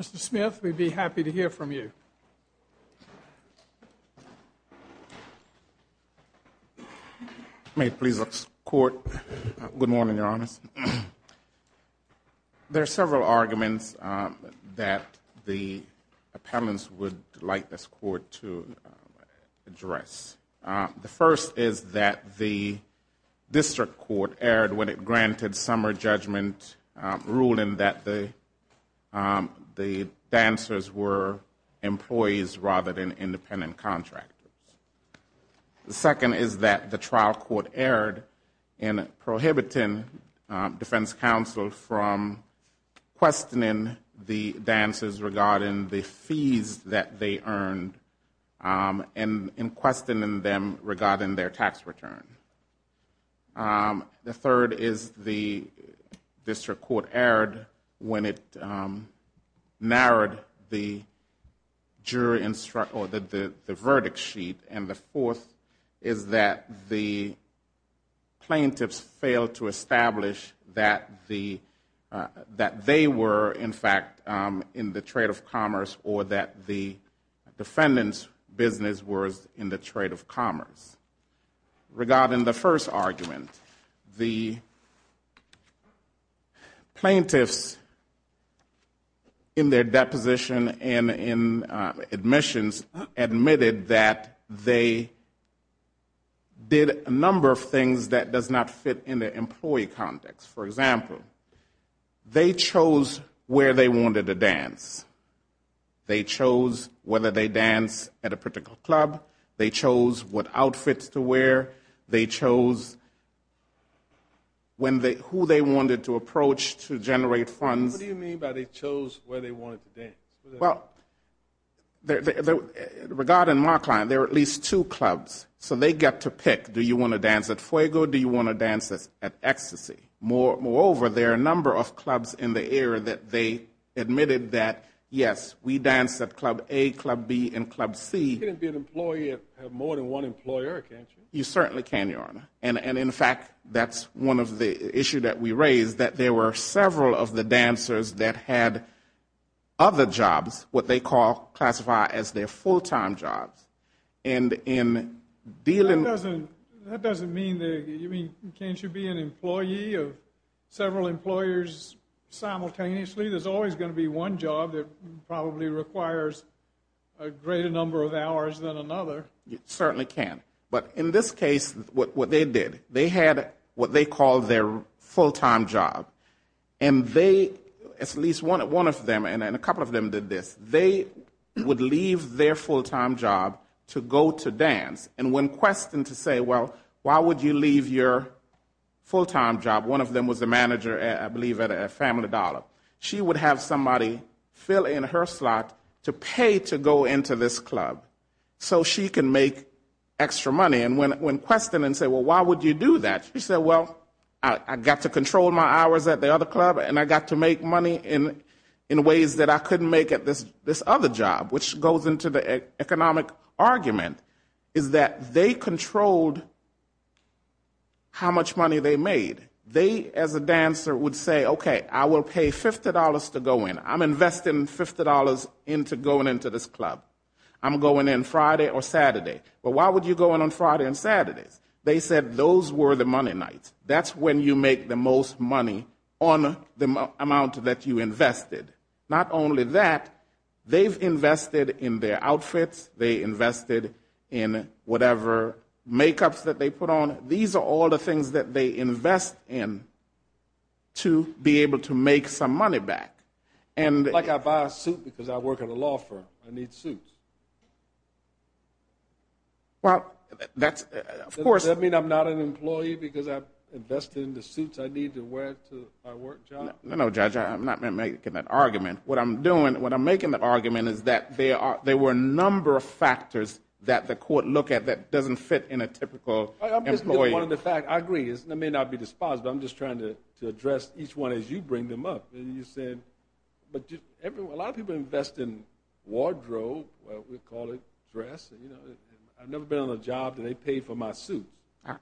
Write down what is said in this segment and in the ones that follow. Mr. Smith, we'd be happy to hear from you. May it please the Court. Good morning, Your Honors. There are several arguments that the appellants would like this Court to address. The first is that the district court erred when it granted summer judgment ruling that the dancers were employees rather than independent contractors. The second is that the trial court erred in prohibiting defense counsel from questioning the dancers regarding the fees that they earned and in questioning them regarding their tax return. The third is the district court erred when it narrowed the verdict sheet. And the fourth is that the plaintiffs failed to establish that they were, in fact, in the trade of commerce or that the defendant's business was in the trade of commerce. Regarding the first argument, the plaintiffs in their deposition and in admissions admitted that they did a number of things that does not fit in the employee context. For example, they chose where they wanted to dance. They chose whether they dance at a particular club. They chose what outfits to wear. They chose who they wanted to approach to generate funds. What do you mean by they chose where they wanted to dance? Well, regarding Markline, there are at least two clubs, so they get to pick. Do you want to dance at Fuego? Do you want to dance at Ecstasy? Moreover, there are a number of clubs in the area that they admitted that, yes, we dance at Club A, Club B, and Club C. You can't be an employee of more than one employer, can't you? You certainly can, Your Honor. And in fact, that's one of the issues that we raised, that there were several of the dancers that had other jobs, what they call, classified as their full-time jobs. That doesn't mean that you can't be an employee of several employers simultaneously. There's always going to be one job that probably requires a greater number of hours than another. You certainly can. But in this case, what they did, they had what they called their full-time job. And they, at least one of them, and a couple of them did this, they would leave their full-time job to go to dance. And when questioned to say, well, why would you leave your full-time job, one of them was the manager, I believe, at Family Dollar, she would have somebody fill in her slot to pay to go into this club. So she can make extra money. And when questioned and said, well, why would you do that? She said, well, I got to control my hours at the other club, and I got to make money in ways that I couldn't make at this other job. Which goes into the economic argument, is that they controlled how much money they made. They, as a dancer, would say, okay, I will pay $50 to go in. I'm investing $50 into going into this club. I'm going in Friday or Saturday. But why would you go in on Friday and Saturday? They said those were the money nights. That's when you make the most money on the amount that you invested. Not only that, they've invested in their outfits, they invested in whatever makeups that they put on. These are all the things that they invest in to be able to make some money back. Like I buy a suit because I work at a law firm. I need suits. Does that mean I'm not an employee because I've invested in the suits I need to wear to my work job? No, Judge, I'm not making that argument. What I'm making the argument is that there were a number of factors that the court looked at that doesn't fit in a typical employee. I agree. It may not be despised, but I'm just trying to address each one as you bring them up. A lot of people invest in wardrobe, what we call it, dress. I've never been on a job where they pay for my suit. I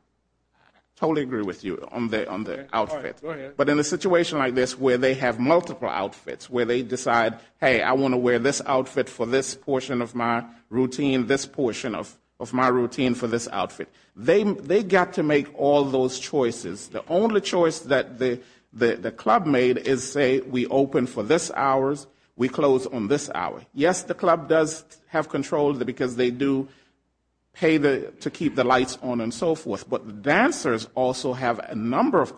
totally agree with you on the outfit. But in a situation like this where they have multiple outfits, where they decide, hey, I want to wear this outfit for this portion of my routine, this portion of my routine for this outfit. They got to make all those choices. The only choice that the club made is say we open for this hours, we close on this hour. Yes, the club does have control because they do pay to keep the lights on and so forth. But the dancers also have a number of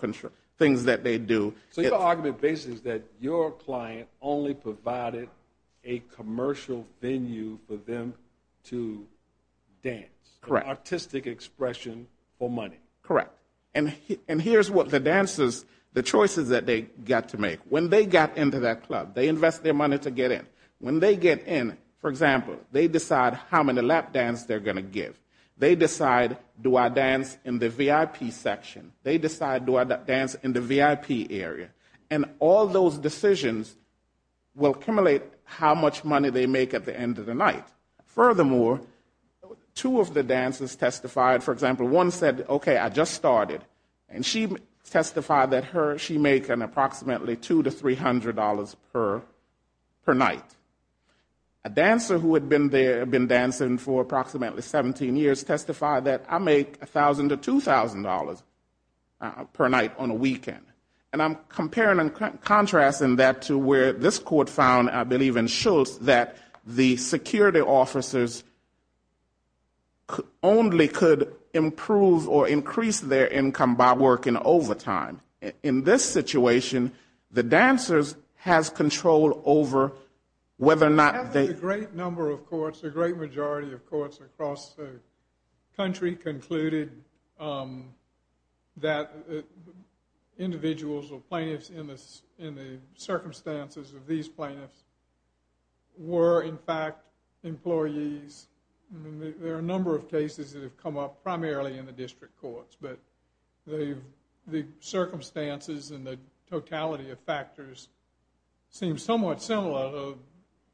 things that they do. So your argument basically is that your client only provided a commercial venue for them to dance. Artistic expression for money. Correct. And here's what the dancers, the choices that they got to make. When they got into that club, they invest their money to get in. When they get in, for example, they decide how many lap dance they're going to give. They decide do I dance in the VIP section. They decide do I dance in the VIP area. And all those decisions will accumulate how much money they make at the end of the night. Furthermore, two of the dancers testified. For example, one said, okay, I just started. And she testified that she make an approximately $200 to $300 per night. A dancer who had been dancing for approximately 17 years testified that I make $1,000 to $2,000 per night on a weekend. And I'm comparing and contrasting that to where this court found, I believe in Schultz, that the security officers only could improve or increase their income by working overtime. In this situation, the dancers has control over whether or not they... A great number of courts, a great majority of courts across the country concluded that individuals or plaintiffs in the circumstances of these plaintiffs were in fact employees. There are a number of cases that have come up primarily in the district courts. The circumstances and the totality of factors seem somewhat similar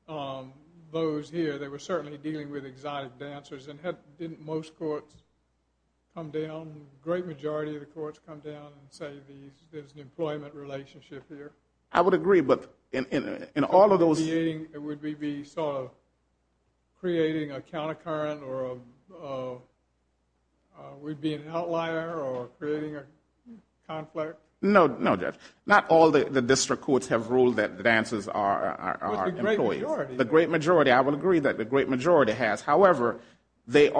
to those here. They were certainly dealing with exotic dancers. A great majority of the courts come down and say there's an employment relationship here. I would agree. But in all of those... It would be sort of creating a counter current or we'd be an outlier or creating a conflict? No, Judge. Not all the district courts have ruled that dancers are employees. The great majority. I would agree that the great majority has. However, the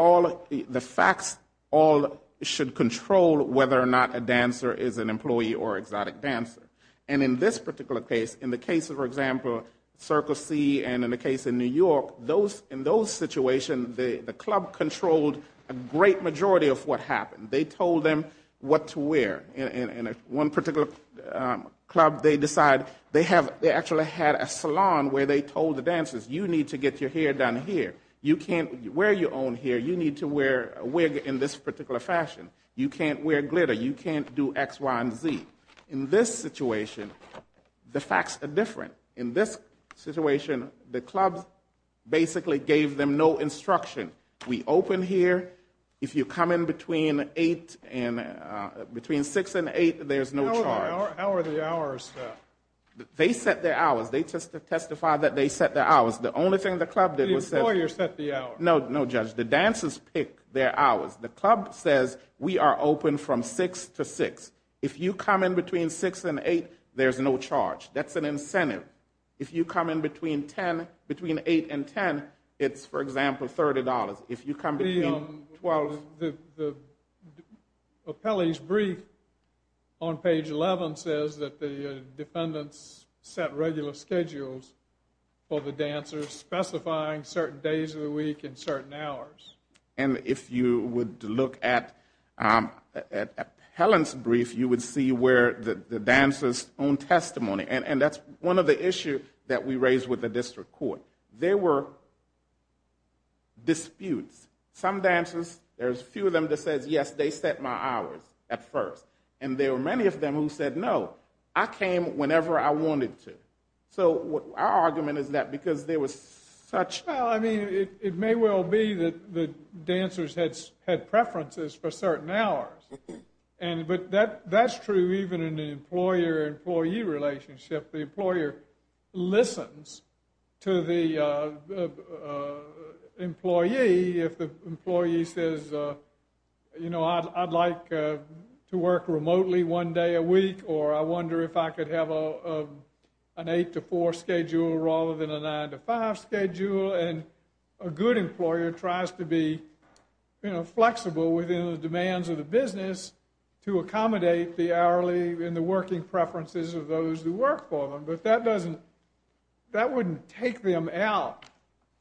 facts all should control whether or not a dancer is an employee or exotic dancer. And in this particular case, in the case of, for example, Circle C and in the case of New York, in those situations the club controlled a great majority of what happened. They told them what to wear. They actually had a salon where they told the dancers you need to get your hair done here. You can't wear your own hair. You need to wear a wig in this particular fashion. You can't wear glitter. You can't do X, Y, and Z. In this situation, the facts are different. In this situation, the club basically gave them no instruction. We open here. If you come in between 6 and 8, there's no charge. How are the hours set? They set their hours. They testified that they set their hours. The only thing the club did was set the hour. No, Judge. The dancers pick their hours. The club says we are open from 6 to 6. If you come in between 6 and 8, there's no charge. That's an incentive. If you come in between 8 and 10, it's, for example, $30. If you come in between 12... The appellee's brief on page 11 says that the defendants set regular schedules for the dancers specifying certain days of the week and certain hours. If you would look at Helen's brief, you would see where the dancers' own testimony. That's one of the issues that we raised with the district court. There were disputes. Some dancers, there's a few of them that said, yes, they set my hours at first. There were many of them who said, no, I came whenever I wanted to. Our argument is that because there was such... The employer listens to the employee if the employee says, you know, I'd like to work remotely one day a week or I wonder if I could have an 8 to 4 schedule rather than a 9 to 5 schedule. A good employer tries to be flexible within the demands of the business to accommodate the hourly and the working preferences of those who work for them. But that doesn't... That wouldn't take them out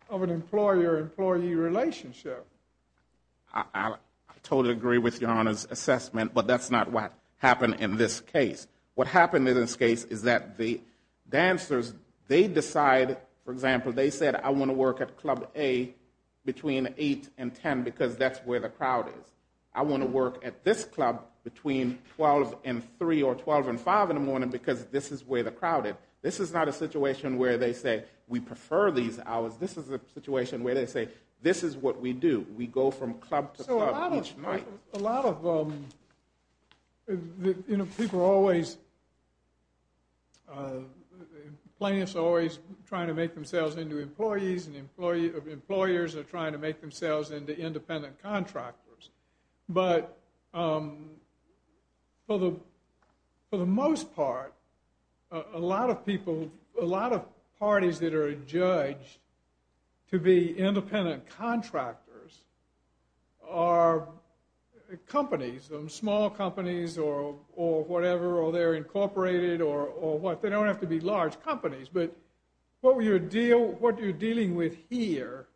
of an employer-employee relationship. I totally agree with Your Honor's assessment, but that's not what happened in this case. What happened in this case is that the dancers, they decide, for example, they said, I want to work at Club A between 8 and 10 because that's where the crowd is. I want to work at this club between 12 and 3 or 12 and 5 in the morning because this is where the crowd is. This is not a situation where they say, we prefer these hours. This is a situation where they say, this is what we do. We go from club to club each night. A lot of people are always... Plaintiffs are always trying to make themselves into employees and employers are trying to make themselves into independent contractors. For the most part, a lot of people, a lot of parties that are judged to be independent contractors are companies, small companies or whatever, or they're incorporated or what. They don't have to be large companies, but what you're dealing with here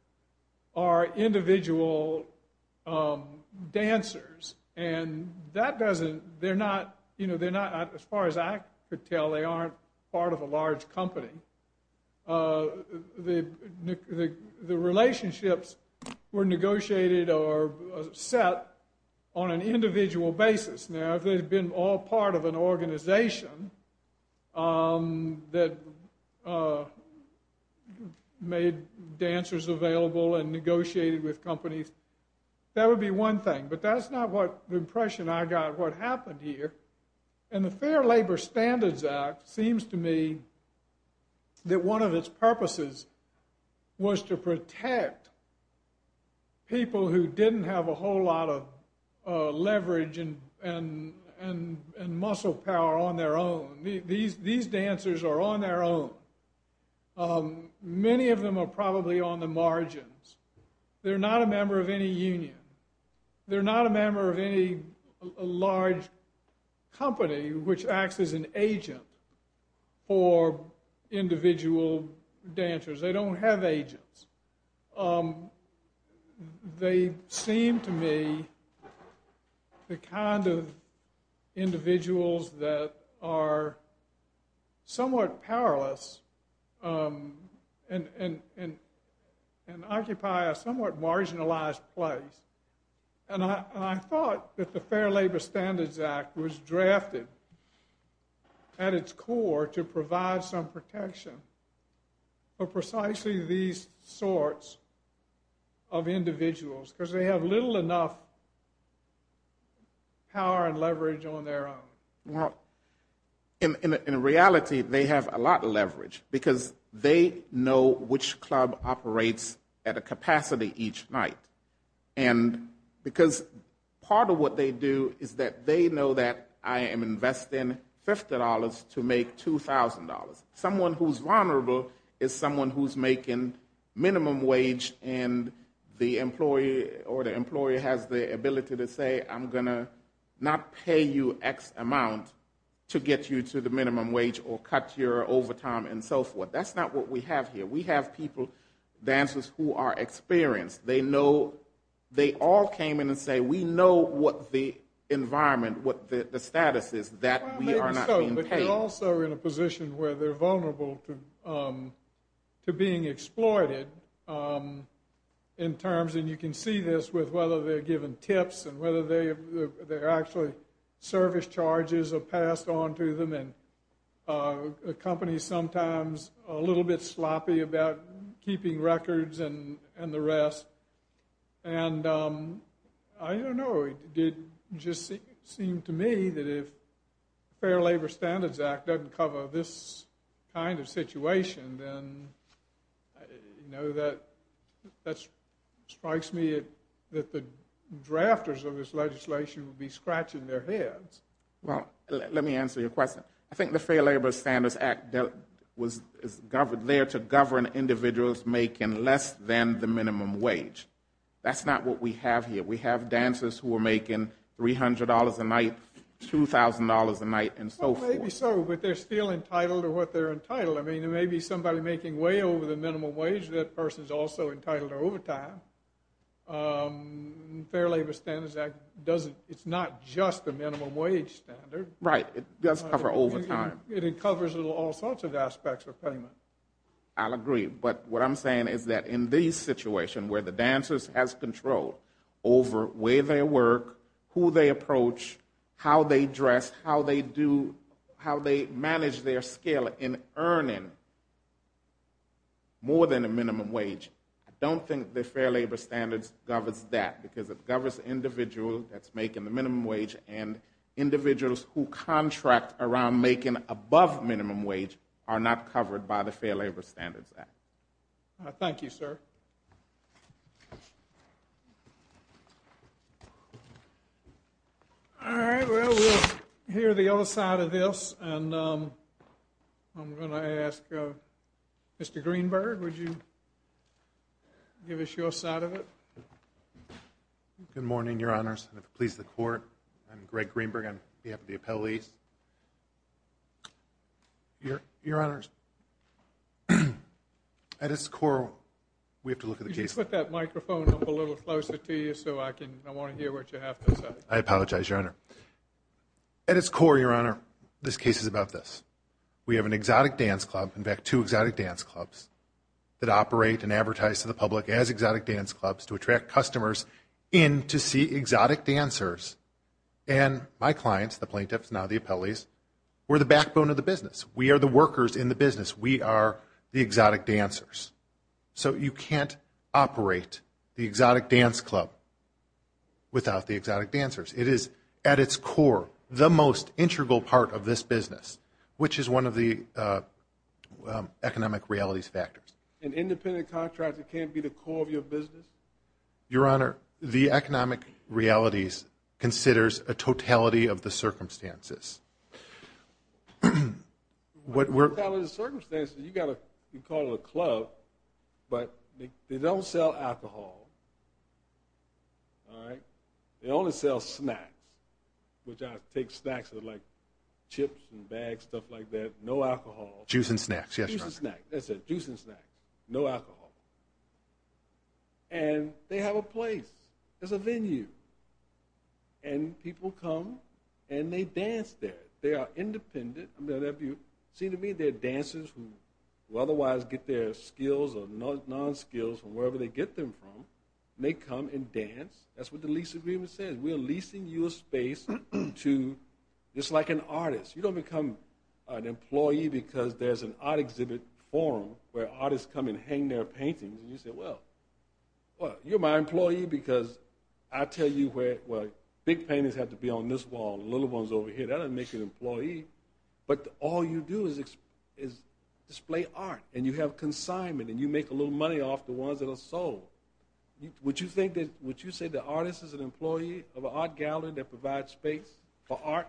are individual dancers. As far as I could tell, they aren't part of a large company. The relationships were negotiated or set on an individual basis. Now, if they'd been all part of an organization that made dancers available and negotiated with companies, that would be one thing, but that's not what impression I got of what happened here. The Fair Labor Standards Act seems to me that one of its purposes was to protect people who didn't have a whole lot of leverage and muscle power on their own. These dancers are on their own. Many of them are probably on the margins. They're not a member of any union. They're not a member of any large company which acts as an agent for them. They seem to me the kind of individuals that are somewhat powerless and occupy a somewhat marginalized place. I thought that the Fair Labor Standards Act was drafted at its core to provide some protection for precisely these sorts of individuals because they have little enough power and leverage on their own. In reality, they have a lot of leverage because they know which club operates at a capacity each night. Part of what they do is that they know that I am investing $50 to make $2,000. Someone who's vulnerable is someone who's making minimum wage and the employee has the ability to say I'm going to not pay you X amount to get you to the minimum wage or cut your overtime and so forth. That's not what we have here. We have people, dancers, who are experienced. They all came in and say we know what the environment, what the status is that we are not being paid. They're also in a position where they're vulnerable to being exploited. You can see this with whether they're given tips and whether they're actually service charges are passed on to them. The company is sometimes a little bit sloppy about keeping records and the rest. It just seemed to me that if the Fair Labor Standards Act doesn't cover this kind of situation, then that strikes me that the drafters of this legislation would be scratching their heads. Well, let me answer your question. I think the Fair Labor Standards Act is there to govern individuals making less than the minimum wage. That's not what we have here. We have dancers who are making $300 a night, $2,000 a night and so forth. Maybe so, but they're still entitled to what they're entitled. I mean, there may be somebody making way over the minimum wage. That person's also entitled to overtime. Fair Labor Standards Act, it's not just the minimum wage standard. Right. It does cover overtime. It covers all sorts of aspects of payment. I'll agree, but what I'm saying is that in these situations where the dancers have control over where they work, who they approach, how they dress, how they manage their skill in earning more than the minimum wage, I don't think the Fair Labor Standards governs that because it governs the individual that's making the minimum wage and individuals who contract around making above minimum wage are not covered by the Fair Labor Standards Act. Thank you, sir. All right. Well, we'll hear the other side of this and I'm going to ask Mr. Greenberg, would you give us your side of it? Good morning, Your Honors, and if it pleases the Court, I'm Greg Greenberg on behalf of the appellees. Your Honors, at its core, we have to look at the case. Could you put that microphone up a little closer to you so I can, I want to hear what you have to say. I apologize, Your Honor. At its core, Your Honor, this case is about this. We have an exotic dance club, in fact, two exotic dance clubs that operate and advertise to the public as exotic dancers and my clients, the plaintiffs, now the appellees, we're the backbone of the business. We are the workers in the business. We are the exotic dancers. So you can't operate the exotic dance club without the exotic dancers. It is, at its core, the most integral part of this business, which is one of the economic realities factors. An independent contractor can't be the core of your business? Your Honor, the economic realities considers a totality of the circumstances. A totality of the circumstances, you got to call it a club, but they don't sell alcohol. They only sell snacks, which I take snacks like chips and bags, stuff like that, no alcohol. Juice and snacks, yes, Your Honor. Juice and snacks. No alcohol. And they have a place. There's a venue. And people come and they dance there. They are independent. See, to me, they're dancers who otherwise get their skills or non-skills from wherever they get them from. They come and dance. That's what the lease is for. You don't become an employee because there's an art exhibit forum where artists come and hang their paintings, and you say, well, you're my employee because I tell you where big paintings have to be on this wall and little ones over here. That doesn't make you an employee. But all you do is display art, and you have consignment, and you make a little money off the ones that are sold. Would you say the artist is an employee of an art gallery that provides space for art?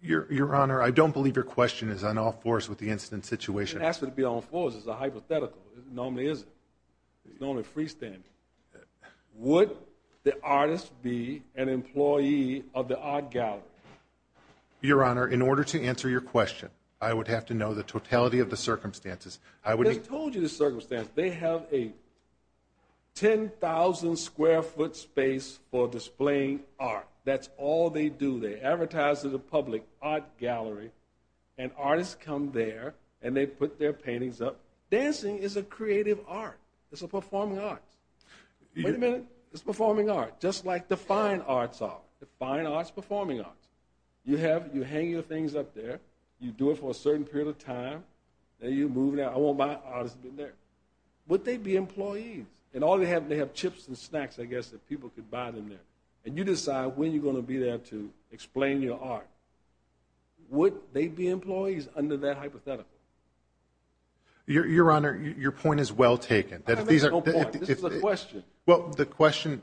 Your Honor, I don't believe your question is on all fours with the incident situation. It has to be on all fours. It's a hypothetical. It normally isn't. It's normally freestanding. Would the artist be an employee of the art gallery? Your Honor, in order to answer your question, I would have to know the totality of the circumstances. I just told you the circumstances. They have a 10,000 square foot space for displaying art. That's all they do. They advertise to the public, art gallery, and artists come there, and they put their paintings up. Dancing is a creative art. It's a performing art. Wait a minute. It's performing art, just like the fine arts are. The fine arts, performing arts. You hang your things up there. You do it for a certain period of time. Then you move it out. I want my artist to be there. Would they be employees? They have chips and snacks, I guess, that people could buy them there, and you decide when you're going to be there to explain your art. Would they be employees under that hypothetical? Your Honor, your point is well taken. I don't make no point. This is a question.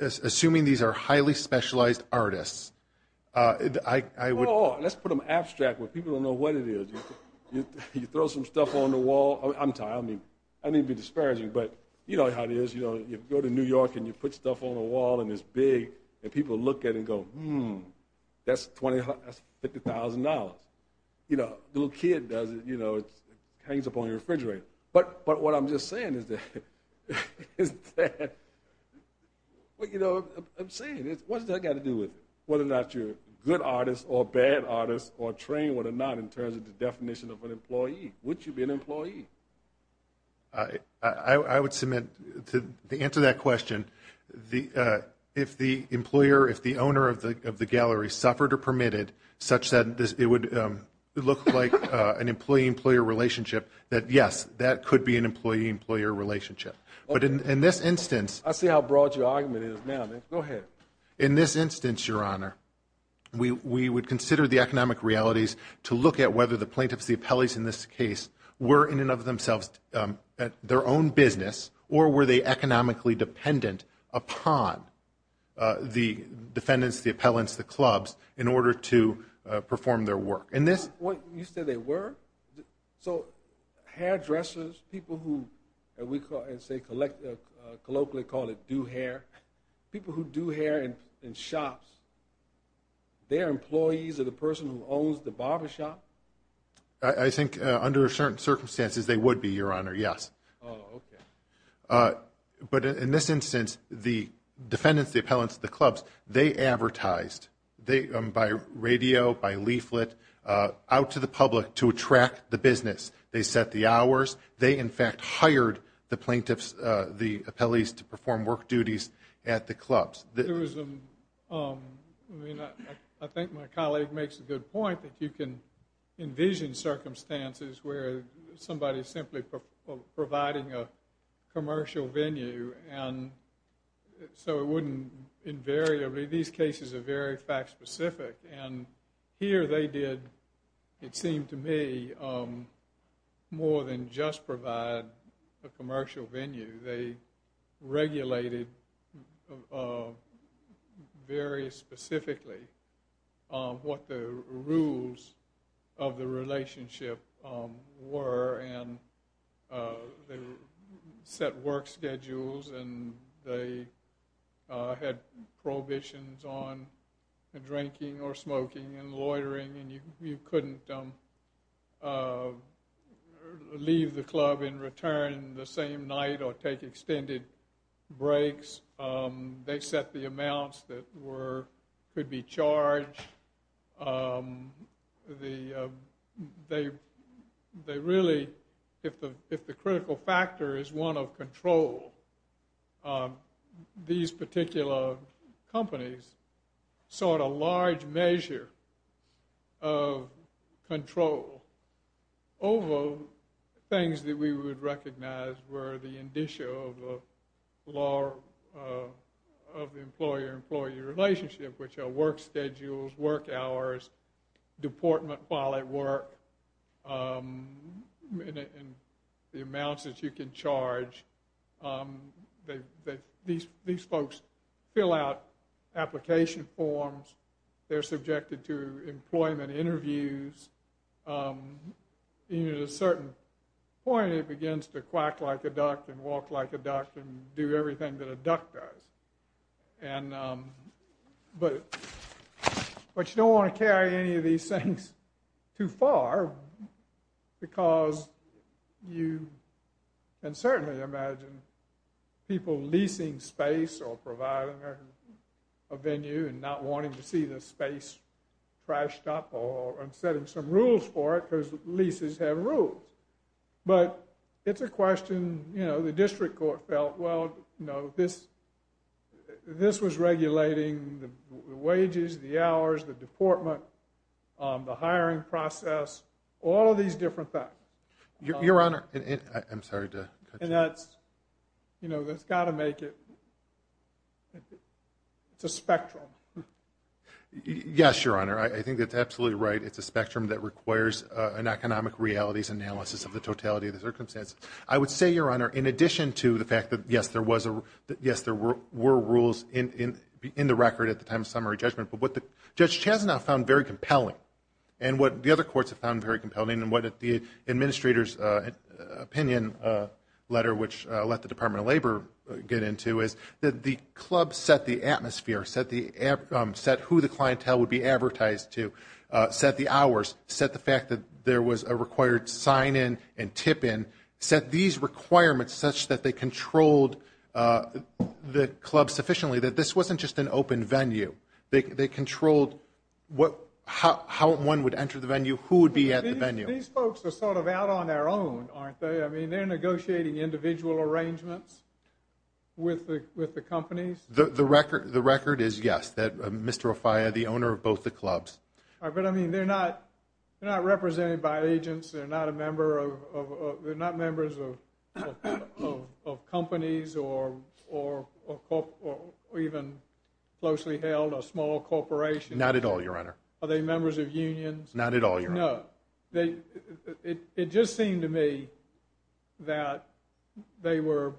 Assuming these are highly specialized artists, I would— Let's put them abstract where people don't know what it is. You throw some stuff on the wall. I'm sorry. I didn't mean to be disparaging, but you know how it is. You go to New York, and you put stuff on the wall, and it's big, and people look at it and go, hmm, that's $50,000. The little kid does it. It hangs up on your refrigerator. But what I'm just saying is that— I'm saying, what's that got to do with it, whether or not you're a good artist or a bad artist, or trained or not in terms of the definition of an employee? Would you be an employee? I would submit, to answer that question, if the owner of the gallery suffered or permitted such that it would look like an employee-employee relationship, that yes, that could be an employee-employee relationship. I see how broad your argument is now. Go ahead. In this instance, Your Honor, we would consider the economic realities to look at whether the plaintiffs, the appellees in this case, were in and of themselves at their own business, or were they economically dependent upon the defendants, the appellants, the clubs, in order to perform their work. You said they were? So hairdressers, people who, we colloquially call it do-hair, people who do hair in shops, they are employees of the person who owns the barbershop? I think under certain circumstances they would be, Your Honor, yes. But in this instance, the defendants, the appellants, the clubs, they advertised, by radio, by leaflet, out to the public to attract the business. They set the hours. They, in fact, hired the plaintiffs, the appellees, to perform work duties at the clubs. There was, I mean, I think my colleague makes a good point that you can envision circumstances where somebody is simply providing a commercial venue, and so it wouldn't invariably, these cases are very fact specific, and here they did, it seemed to me, more than just provide a commercial venue. They regulated very specifically what the rules of the relationship were, and they set work schedules, and they had prohibitions on drinking or smoking and loitering, and you couldn't leave the club and return the same night or tomorrow. They didn't take extended breaks. They set the amounts that could be charged. They really, if the critical factor is one of control, these particular companies sought a large measure of control over things that we would recognize were the indicia of the employer-employee relationship, which are work schedules, work hours, deportment while at work, and the amounts that you can charge. These folks fill out application forms. They're subjected to employment interviews. At a certain point, it begins to quack like a duck and walk like a duck and do everything that a duck does, but you don't want to carry any of these things too far because you can certainly imagine people leasing space or providing a venue and not wanting to see the space trashed up or setting some rules for it because leases have rules, but it's a question. The district court felt, well, this was regulating the wages, the hours, the deportment, the hiring process, all of these different factors. That's got to make it, it's a spectrum. Yes, Your Honor, I think that's absolutely right. It's a spectrum that requires an economic realities analysis of the totality of the circumstance. I would say, Your Honor, in addition to the fact that, yes, there were rules in the record at the time of summary judgment, but what Judge Chazanoff found very compelling and what the other courts have found very compelling and what the administrator's opinion letter which let the Department of Labor get into is that the club set the atmosphere, set who the clientele would be advertised to, set the hours, set the fact that there was a required sign-in and tip-in, set these requirements such that they controlled the club sufficiently that this wasn't just an open venue. They controlled how one would enter the venue, who would be at the venue. These folks are sort of out on their own, aren't they? I mean, they're negotiating individual arrangements with the companies? The record is, yes, that Mr. Ofaya, the owner of both the clubs. But, I mean, they're not represented by agents. They're not members of companies or even closely held, a small corporation. Not at all, Your Honor. Are they members of unions? Not at all, Your Honor. It just seemed to me that they were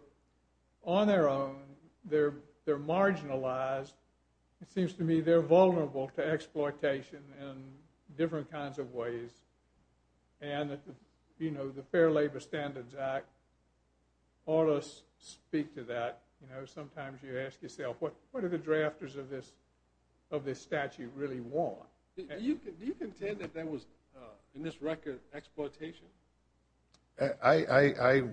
on their own. They're marginalized. It seems to me they're vulnerable to exploitation in different kinds of ways and the Fair Labor Standards Act ought to speak to that. You know, sometimes you ask yourself, what do the drafters of this statute really want? Do you contend that there was, in this record, exploitation? I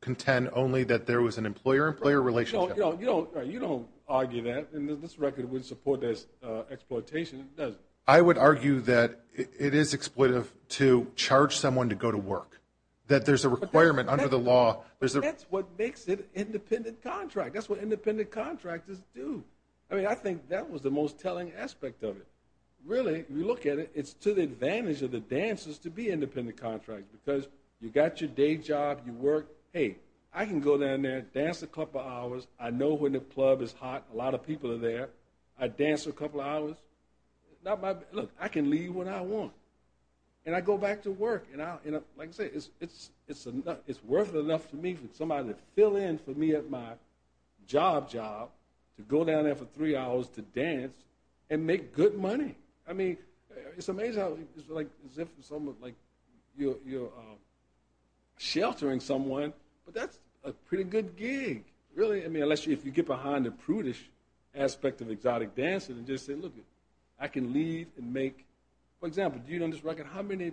contend only that there was an employer-employer relationship. You don't argue that. In this record, we support this exploitation. I would argue that it is exploitive to charge someone to go to work, that there's a requirement under the law. That's what makes it independent contract. That's what independent contractors do. I mean, I think that was the most telling aspect of it. Really, if you look at it, it's to the advantage of the dancers to be independent contractors, because you got your day job, you work, hey, I can go down there, dance a couple hours, I know when the club is hot, a lot of people are there, I dance a couple hours. Look, I can leave when I want. And I go back to work. It's worth it enough to me for somebody to fill in for me at my job job to go down there for three hours to dance and make good money. It's amazing how it's as if you're sheltering someone, but that's a pretty good gig. Really, unless you get behind the prudish aspect of exotic dancing and just say, look, I can leave and make, for example, do you know on this record, how many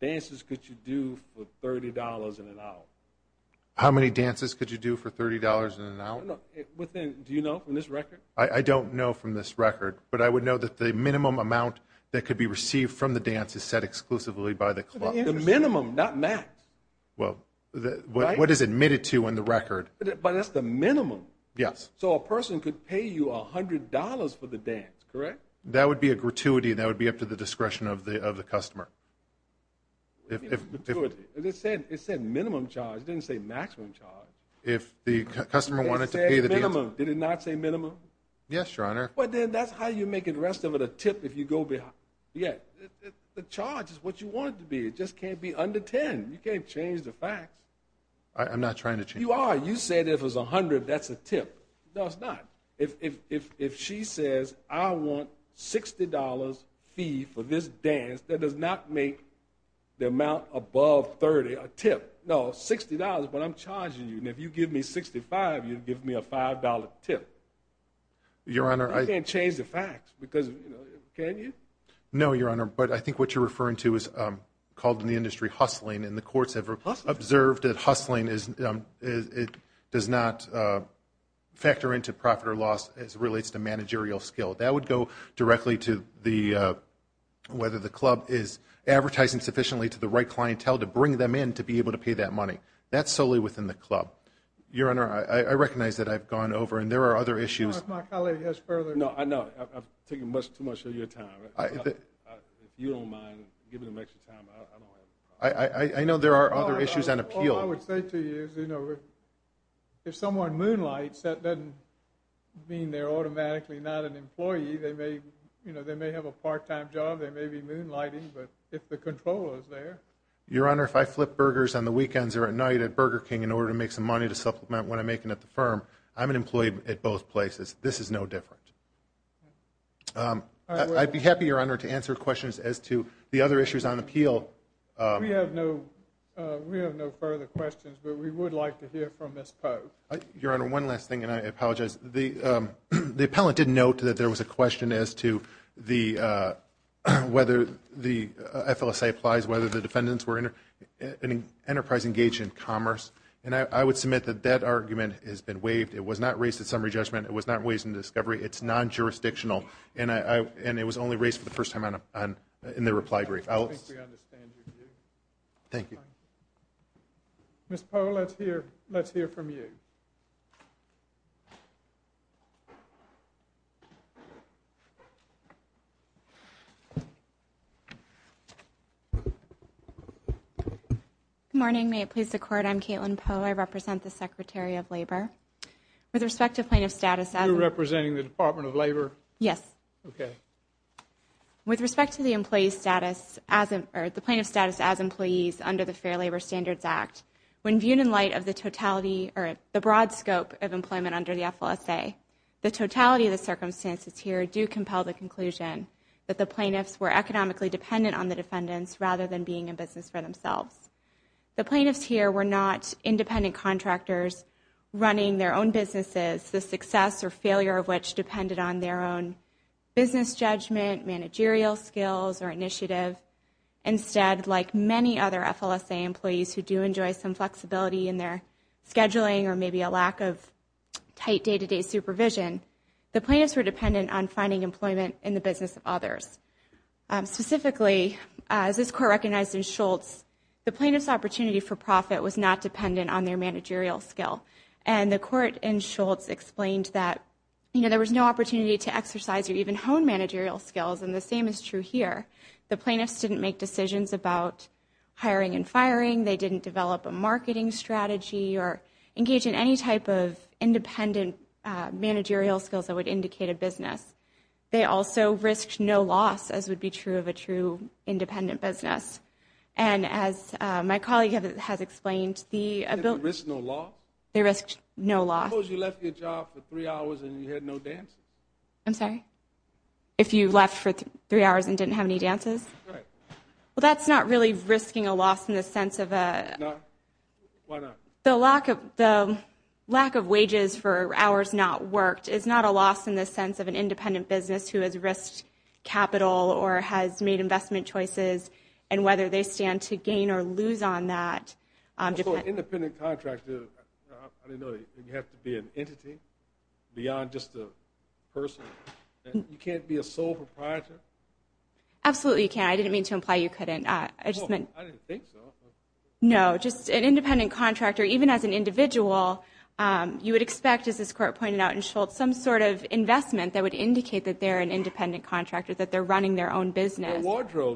dances could you do for $30 an hour? How many dances could you do for $30 an hour? Do you know from this record? I don't know from this record, but I would know that the minimum amount that could be received from the dance is set exclusively by the club. The minimum, not max. But that's the minimum. So a person could pay you $100 for the dance, correct? That would be a gratuity. That would be up to the discretion of the customer. It said minimum charge. It didn't say maximum charge. It said minimum. Did it not say minimum? Yes, Your Honor. Well, then that's how you make the rest of it a tip if you go behind. The charge is what you want it to be. It just can't be under $10. You can't change the facts. I'm not trying to change the facts. You are. You said if it was $100, that's a tip. No, it's not. If she says, I want $60 fee for this dance, that does not make the amount above $30 a tip. No, $60, but I'm charging you, and if you give me $65, you'll give me a $5 tip. Your Honor, I... Can you? No, Your Honor, but I think what you're referring to is called in the industry hustling, and the courts have observed that hustling does not factor into profit or loss as it relates to managerial skill. That would go directly to whether the club is advertising sufficiently to the right clientele to bring them in to be able to pay that money. That's solely within the club. Your Honor, I recognize that I've gone over, and there are other issues. Your Honor, if my colleague has further... No, I know. I've taken too much of your time. If you don't mind giving him extra time, I don't have a problem. I know there are other issues on appeal. All I would say to you is, you know, if someone moonlights, that doesn't mean they're automatically not an employee. They may have a part-time job. They may be moonlighting, but if the control is there... Your Honor, if I flip burgers on the weekends or at night at Burger King in order to make some money to supplement what I'm making at the firm, I'm an employee at both places. This is no different. I'd be happy, Your Honor, to answer questions as to the other issues on appeal. We have no further questions, but we would like to hear from Ms. Poe. Your Honor, one last thing, and I apologize. The appellant did note that there was a question as to whether the FLSA applies, whether the defendants were an enterprise engaged in commerce, and I would submit that that argument has been waived. It was not raised at summary judgment. It was not raised in discovery. It's non-jurisdictional, and it was only raised for the first time in the reply brief. I think we understand your view. Thank you. Ms. Poe, let's hear from you. Ms. Poe. Good morning. May it please the Court, I'm Caitlin Poe. I represent the Secretary of Labor. With respect to plaintiff status as an employee. You're representing the Department of Labor? Yes. Okay. With respect to the plaintiff status as employees under the Fair Labor Standards Act, when viewed in light of the broad scope of employment under the FLSA, the totality of the circumstances here do compel the conclusion that the plaintiffs were economically dependent on the defendants rather than being in business for themselves. The plaintiffs here were not independent contractors running their own businesses, the success or failure of which depended on their own business judgment, managerial skills, or initiative. Instead, like many other FLSA employees who do enjoy some flexibility in their scheduling or maybe a lack of tight day-to-day supervision, the plaintiffs were dependent on finding employment in the business of others. Specifically, as this Court recognized in Schultz, the plaintiff's opportunity for profit was not dependent on their managerial skill. And the Court in Schultz explained that there was no opportunity to exercise or even hone managerial skills, and the same is true here. The plaintiffs didn't make decisions about hiring and firing. They didn't develop a marketing strategy or engage in any type of independent managerial skills that would indicate a business. They also risked no loss, as would be true of a true independent business. And as my colleague has explained, the ability to risk no loss. Suppose you left your job for three hours and you had no dancing. I'm sorry? If you left for three hours and didn't have any dances? Right. Well, that's not really risking a loss in the sense of a... No. Why not? The lack of wages for hours not worked is not a loss in the sense of an independent business who has risked capital or has made investment choices, and whether they stand to gain or lose on that. Also, an independent contractor, I didn't know, you have to be an entity beyond just a person. You can't be a sole proprietor. Absolutely you can. I didn't mean to imply you couldn't. I just meant... I didn't think so. No, just an independent contractor, even as an individual, you would expect, as this court pointed out in Schultz, some sort of investment that would indicate that they're an independent contractor, that they're running their own business.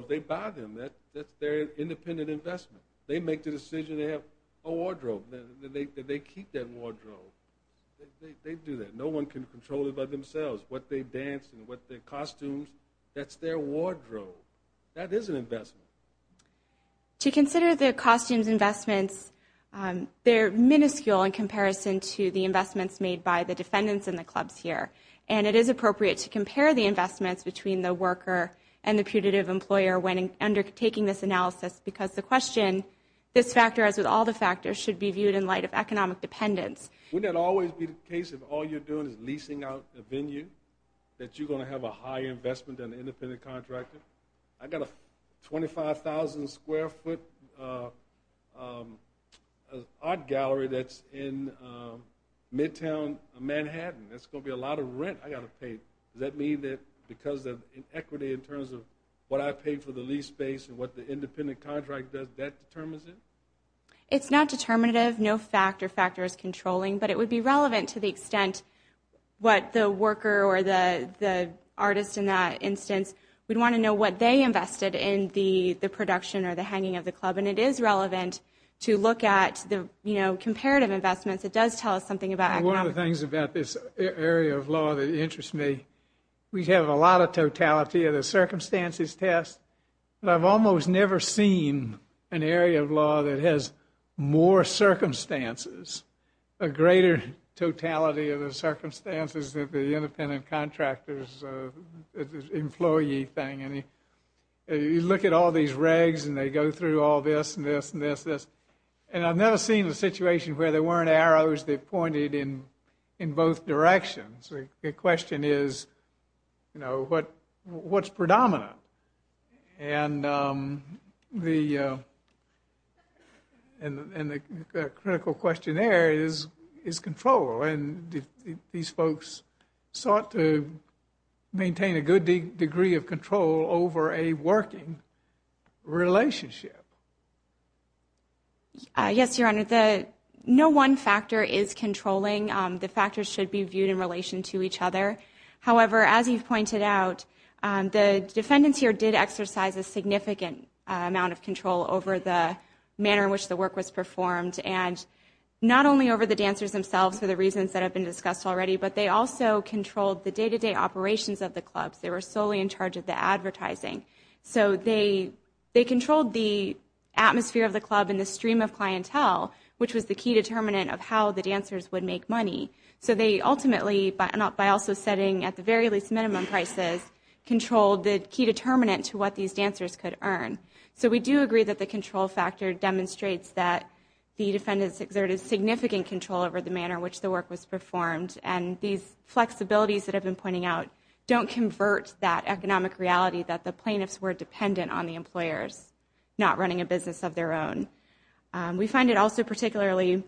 They buy them. That's their independent investment. They make the decision to have a wardrobe. They keep that wardrobe. They do that. No one can control it by themselves. What they dance and what their costumes, that's their wardrobe. That is an investment. To consider the costumes investments, they're minuscule in comparison to the investments made by the defendants in the clubs here, and it is appropriate to compare the investments between the worker and the putative employer when undertaking this analysis because the question, this factor as with all the factors, should be viewed in light of economic dependence. Wouldn't it always be the case if all you're doing is leasing out a venue that you're going to have a higher investment than an independent contractor? I've got a 25,000 square foot art gallery that's in midtown Manhattan. That's going to be a lot of rent I've got to pay. Does that mean that because of inequity in terms of what I paid for the lease space and what the independent contract does, that determines it? It's not determinative. No factor is controlling, but it would be relevant to the extent what the worker or the artist in that instance, we'd want to know what they invested in the production or the hanging of the club, and it is relevant to look at the comparative investments. It does tell us something about economics. One of the things about this area of law that interests me, we have a lot of totality of the circumstances test, but I've almost never seen an area of law that has more circumstances, a greater totality of the circumstances than the independent contractor's employee thing. You look at all these regs and they go through all this and this and this, and I've never seen a situation where there weren't arrows that pointed in both directions. The question is, you know, what's predominant? And the critical question there is control, and these folks sought to maintain a good degree of control over a working relationship. Yes, Your Honor, no one factor is controlling. The factors should be viewed in relation to each other. However, as you've pointed out, the defendants here did exercise a significant amount of control over the manner in which the work was performed, and not only over the dancers themselves for the reasons that have been discussed already, but they also controlled the day-to-day operations of the clubs. They were solely in charge of the advertising. So they controlled the atmosphere of the club and the stream of clientele, which was the key determinant of how the dancers would make money. So they ultimately, by also setting at the very least minimum prices, controlled the key determinant to what these dancers could earn. So we do agree that the control factor demonstrates that the defendants exerted significant control over the manner in which the work was performed, and these flexibilities that I've been pointing out don't convert that economic reality that the plaintiffs were dependent on the employers not running a business of their own. We find it also particularly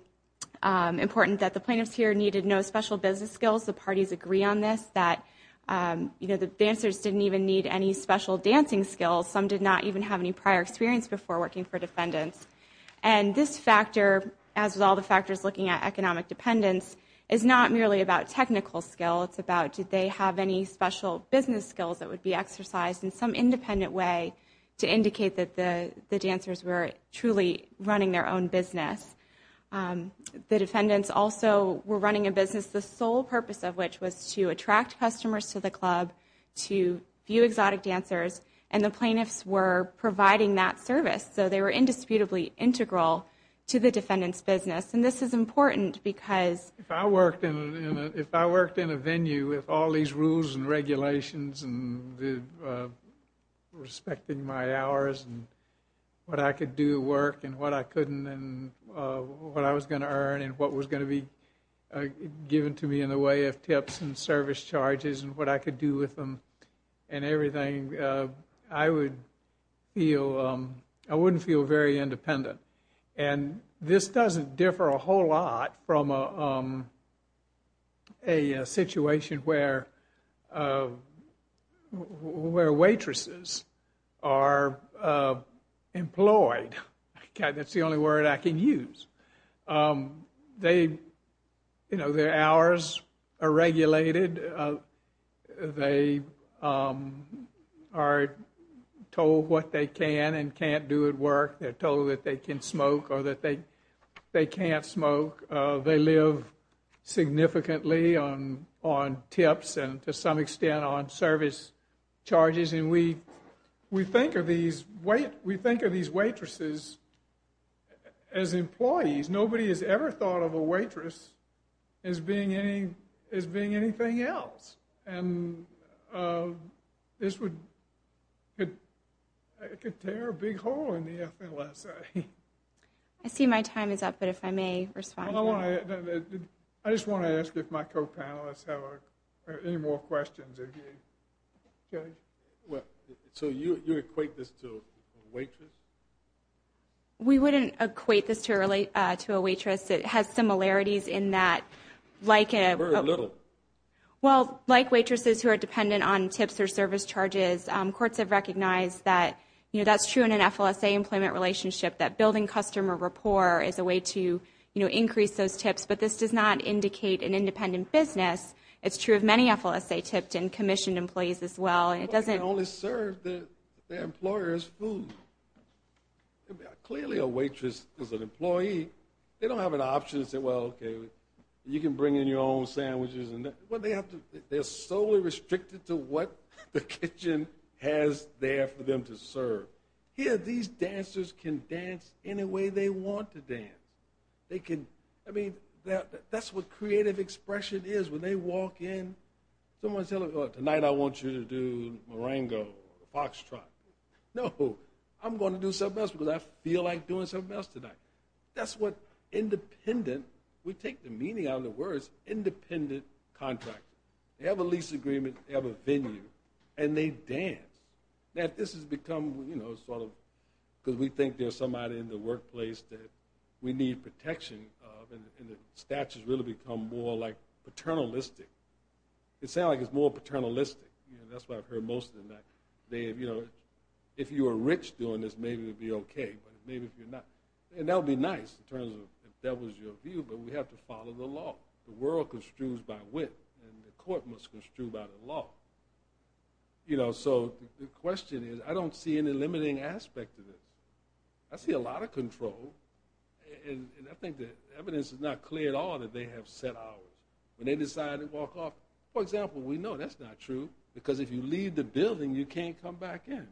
important that the plaintiffs here needed no special business skills. The parties agree on this, that the dancers didn't even need any special dancing skills. Some did not even have any prior experience before working for defendants. And this factor, as with all the factors looking at economic dependence, is not merely about technical skill. It's about did they have any special business skills that would be exercised in some independent way to indicate that the dancers were truly running their own business. The defendants also were running a business, the sole purpose of which was to attract customers to the club, to view exotic dancers, and the plaintiffs were providing that service. So they were indisputably integral to the defendant's business. And this is important because... If I worked in a venue with all these rules and regulations and respecting my hours and what I could do to work and what I couldn't and what I was going to earn and what was going to be given to me in the way of tips and service charges and what I could do with them and everything, I wouldn't feel very independent. And this doesn't differ a whole lot from a situation where waitresses are employed. That's the only word I can use. Their hours are regulated. They are told what they can and can't do at work. They're told that they can smoke or that they can't smoke. They live significantly on tips and, to some extent, on service charges. And we think of these waitresses as employees. Nobody has ever thought of a waitress as being anything else. And this could tear a big hole in the FLSA. I see my time is up, but if I may respond. I just want to ask if my co-panelists have any more questions. So you equate this to a waitress? We wouldn't equate this to a waitress. It has similarities in that, like a... Like waitresses who are dependent on tips or service charges, courts have recognized that that's true in an FLSA employment relationship, that building customer rapport is a way to increase those tips. But this does not indicate an independent business. It's true of many FLSA-tipped and commissioned employees as well. It doesn't... They only serve their employers food. Clearly a waitress is an employee. They don't have an option to say, well, okay, you can bring in your own sandwiches. They're solely restricted to what the kitchen has there for them to serve. Here, these dancers can dance any way they want to dance. They can... I mean, that's what creative expression is. When they walk in, someone's telling them, tonight I want you to do Marengo or Foxtrot. No, I'm going to do something else because I feel like doing something else tonight. That's what independent... Contractors. They have a lease agreement, they have a venue, and they dance. Now, this has become sort of... because we think there's somebody in the workplace that we need protection of, and the statutes really become more paternalistic. It sounds like it's more paternalistic. That's why I've heard most of them. If you were rich doing this, maybe it would be okay, but maybe if you're not... And that would be nice in terms of if that was your view, but we have to follow the law. The world construes by wit, and the court must construe by the law. So the question is, I don't see any limiting aspect to this. I see a lot of control, and I think the evidence is not clear at all that they have set hours. When they decide to walk off, for example, we know that's not true because if you leave the building, you can't come back in.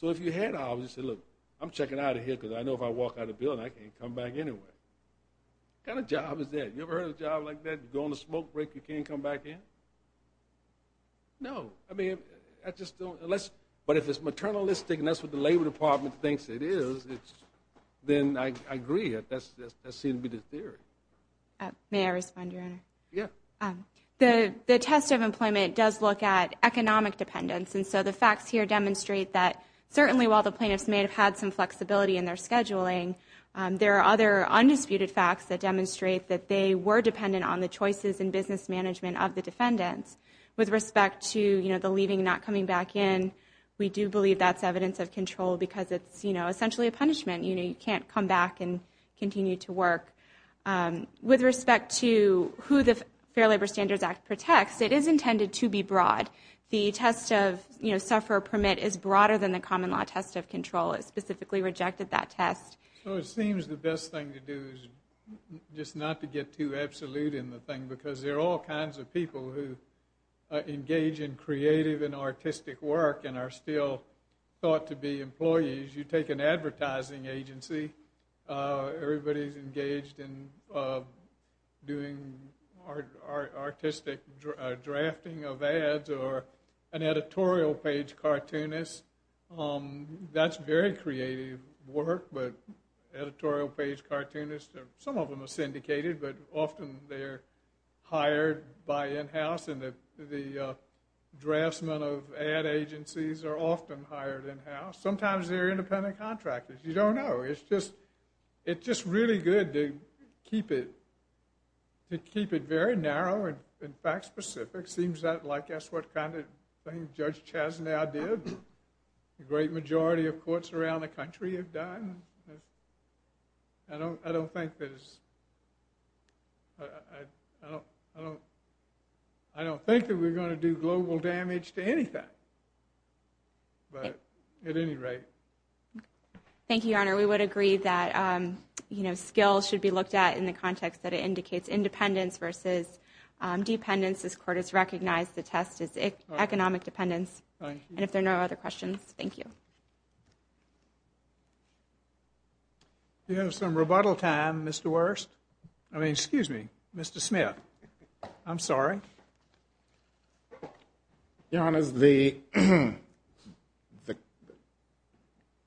So if you had hours, you'd say, look, I'm checking out of here because I know if I walk out of the building, I can't come back anyway. What kind of job is that? You ever heard of a job like that? You go on a smoke break, you can't come back in? No. I mean, I just don't... But if it's maternalistic and that's what the Labor Department thinks it is, then I agree. That seems to be the theory. May I respond, Your Honor? Yeah. The test of employment does look at economic dependence, and so the facts here demonstrate that certainly while the plaintiffs may have had some flexibility in their scheduling, there are other undisputed facts that demonstrate that they were dependent on the choices in business management of the defendants. With respect to the leaving and not coming back in, we do believe that's evidence of control because it's essentially a punishment. You can't come back and continue to work. With respect to who the Fair Labor Standards Act protects, it is intended to be broad. The test of sufferer permit is broader than the common law test of control. It specifically rejected that test. So it seems the best thing to do is just not to get too absolute in the thing because there are all kinds of people who engage in creative and artistic work and are still thought to be employees. You take an advertising agency, everybody's engaged in doing artistic drafting of ads or an editorial page cartoonist. That's very creative work, but editorial page cartoonists, some of them are syndicated, but often they're hired by in-house and the draftsmen of ad agencies are often hired in-house. Sometimes they're independent contractors. You don't know. It's just really good to keep it very narrow and fact-specific. It seems like that's what kind of thing Judge Chasnow did and a great majority of courts around the country have done. I don't think that we're going to do global damage to anything, but at any rate. Thank you, Your Honor. We would agree that skills should be looked at in the context that it indicates independence versus dependence. This Court has recognized the test as economic dependence, and if there are no other questions, thank you. We have some rebuttal time, Mr. Wuerst. I mean, excuse me, Mr. Smith. I'm sorry. Your Honor,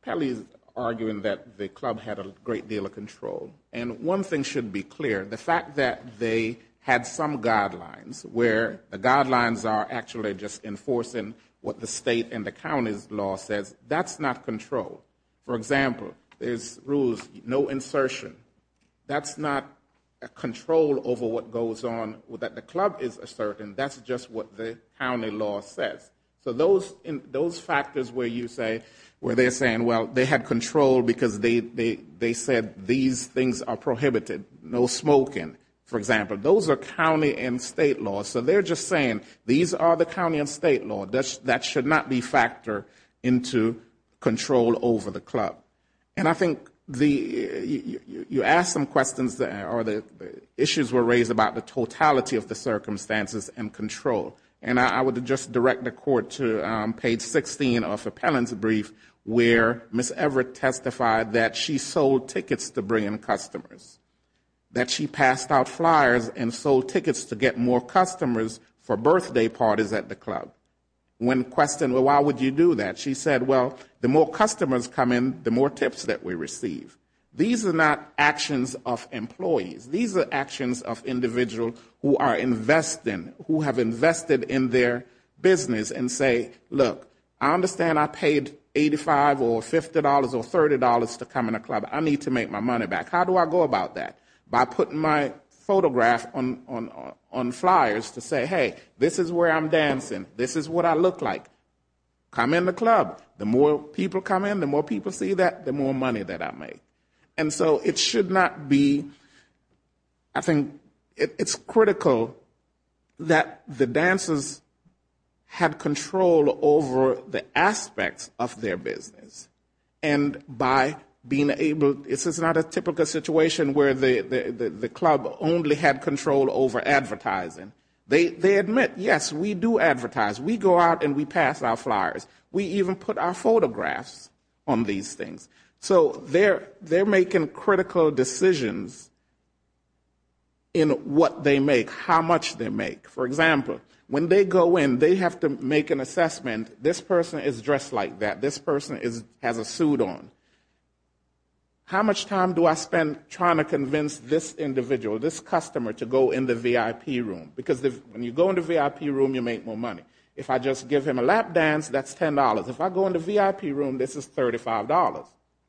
Pelley is arguing that the club had a great deal of control, and one thing should be clear, the fact that they had some guidelines where the guidelines are actually just enforcing what the state and the county's law says, that's not control. For example, there's rules, no insertion. That's not a control over what goes on that the club is asserting. That's just what the county law says. They had control because they said these things are prohibited, no smoking, for example. Those are county and state laws. So they're just saying these are the county and state laws. That should not be factored into control over the club. And I think you asked some questions, or the issues were raised about the totality of the circumstances and control. And I would just direct the Court to page 16 of the appellant's brief where Ms. Everett testified that she sold tickets to bring in customers, that she passed out flyers and sold tickets to get more customers for birthday parties at the club. When questioned, well, why would you do that? She said, well, the more customers come in, the more tips that we receive. These are not actions of employees. These are actions of individuals who are investing, who have invested in their business and say, look, I understand I paid $85 or $50 or $30 to come in the club. I need to make my money back. How do I go about that? By putting my photograph on flyers to say, hey, this is where I'm dancing. This is what I look like. Come in the club. The more people come in, the more people see that, the more money that I make. And so it should not be, I think, it's critical that the dancers have control over the aspects of their business. And by being able, this is not a typical situation where the club only had control over advertising. They admit, yes, we do advertise. We go out and we pass out flyers. We even put our photographs on these things. So they're making critical decisions in what they make, how much they make. For example, when they go in, they have to make an assessment. This person is dressed like that. This person has a suit on. How much time do I spend trying to convince this individual, this customer, to go in the VIP room? Because when you go in the VIP room, you make more money. If I just give him a lap dance, that's $10. If I go in the VIP room, this is $35.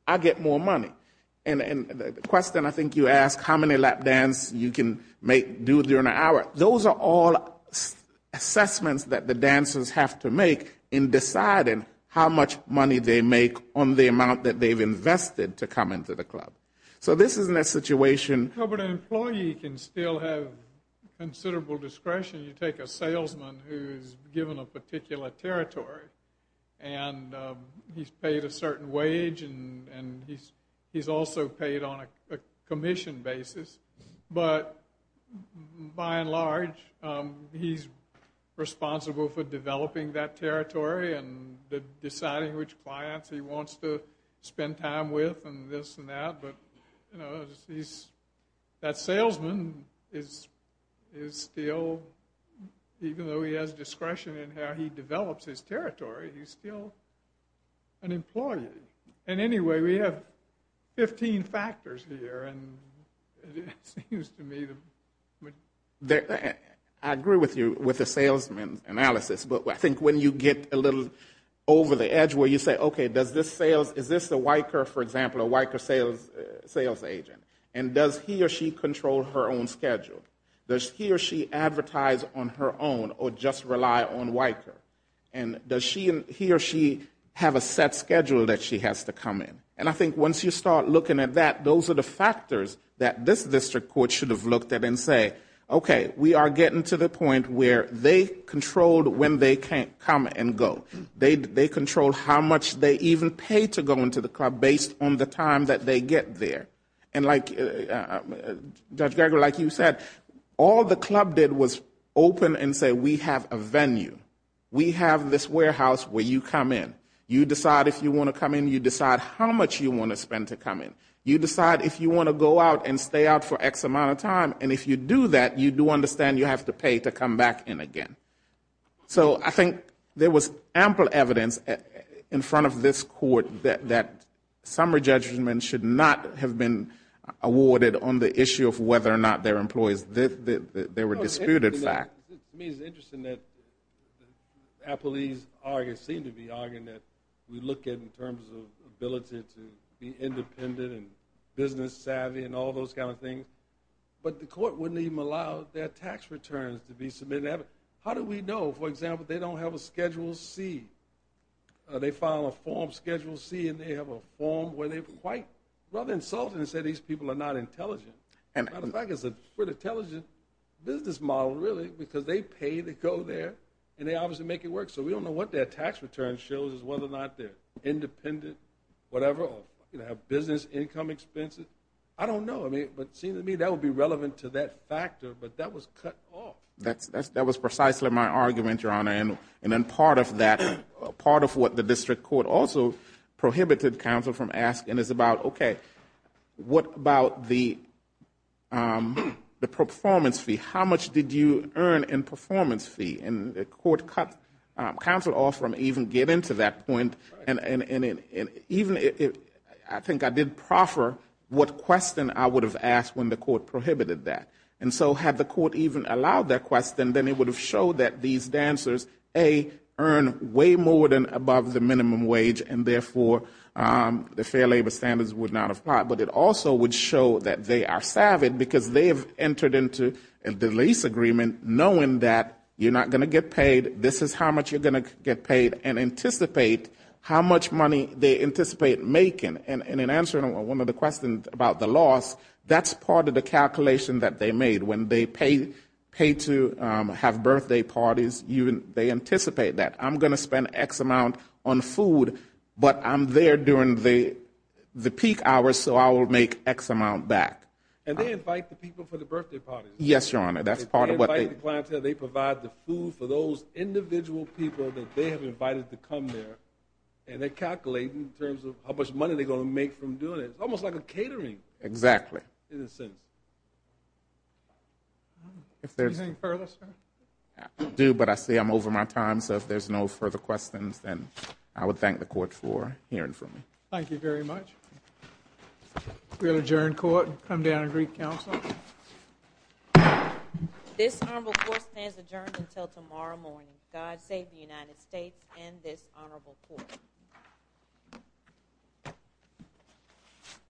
I get more money. And the question I think you asked, how many lap dance you can do during the hour, those are all assessments that the dancers have to make in deciding how much money they make on the amount that they've invested to come into the club. So this isn't a situation. But an employee can still have considerable discretion. You take a salesman who's given a particular territory, and he's paid a certain wage, and he's also paid on a commission basis. But by and large, he's responsible for developing that territory and deciding which clients he wants to spend time with and this and that. But that salesman is still, even though he has discretion in how he develops his territory, he's still an employee. And anyway, we have 15 factors here, and it seems to me that... I agree with you with the salesman analysis. But I think when you get a little over the edge where you say, okay, is this a WICR, for example, a WICR sales agent? And does he or she control her own schedule? Does he or she advertise on her own or just rely on WICR? And does he or she have a set schedule that she has to come in? And I think once you start looking at that, those are the factors that this district court should have looked at and say, okay, we are getting to the point where they controlled when they can come and go. They controlled how much they even paid to go into the club based on the time that they get there. And like, Judge Gregory, like you said, all the club did was open and say, we have a venue. We have this warehouse where you come in. You decide if you want to come in. You decide how much you want to spend to come in. You decide if you want to go out and stay out for X amount of time. And if you do that, you do understand you have to pay to come back in again. So I think there was ample evidence in front of this court that summary judgment should not have been awarded on the issue of whether or not their employees, they were disputed facts. It's interesting that Applebee's argued, seemed to be arguing that we look at in terms of ability to be independent and business savvy and all those kind of things. But the court wouldn't even allow their tax returns to be submitted. How do we know? For example, they don't have a Schedule C. They file a form, Schedule C, and they have a form where they're quite, rather insulting to say these people are not intelligent. As a matter of fact, it's a pretty intelligent business model, really, because they pay to go there, and they obviously make it work. So we don't know what their tax return shows is whether or not they're independent, whatever, or have business income expenses. I don't know. But it seems to me that would be relevant to that factor, but that was cut off. That was precisely my argument, Your Honor. And then part of that, part of what the district court also prohibited counsel from asking is about, okay, what about the performance fee? How much did you earn in performance fee? And the court cut counsel off from even getting to that point, and even I think I did proffer what question I would have asked when the court prohibited that. And so had the court even allowed that question, then it would have showed that these dancers, A, earn way more than above the minimum wage and therefore the fair labor standards would not apply. But it also would show that they are savage because they have entered into the lease agreement knowing that you're not going to get paid, this is how much you're going to get paid, and anticipate how much money they anticipate making. And in answering one of the questions about the loss, that's part of the calculation that they made. When they pay to have birthday parties, they anticipate that. I'm going to spend X amount on food, but I'm there during the peak hours, so I will make X amount back. And they invite the people for the birthday parties? Yes, Your Honor, that's part of what they do. They invite the clientele, they provide the food for those individual people that they have invited to come there, and they calculate in terms of how much money they're going to make from doing it. It's almost like a catering. Exactly. In a sense. Anything further, sir? I do, but I say I'm over my time, so if there's no further questions, then I would thank the court for hearing from me. Thank you very much. We'll adjourn court and come down and greet counsel. This honorable court stands adjourned until tomorrow morning. God save the United States and this honorable court.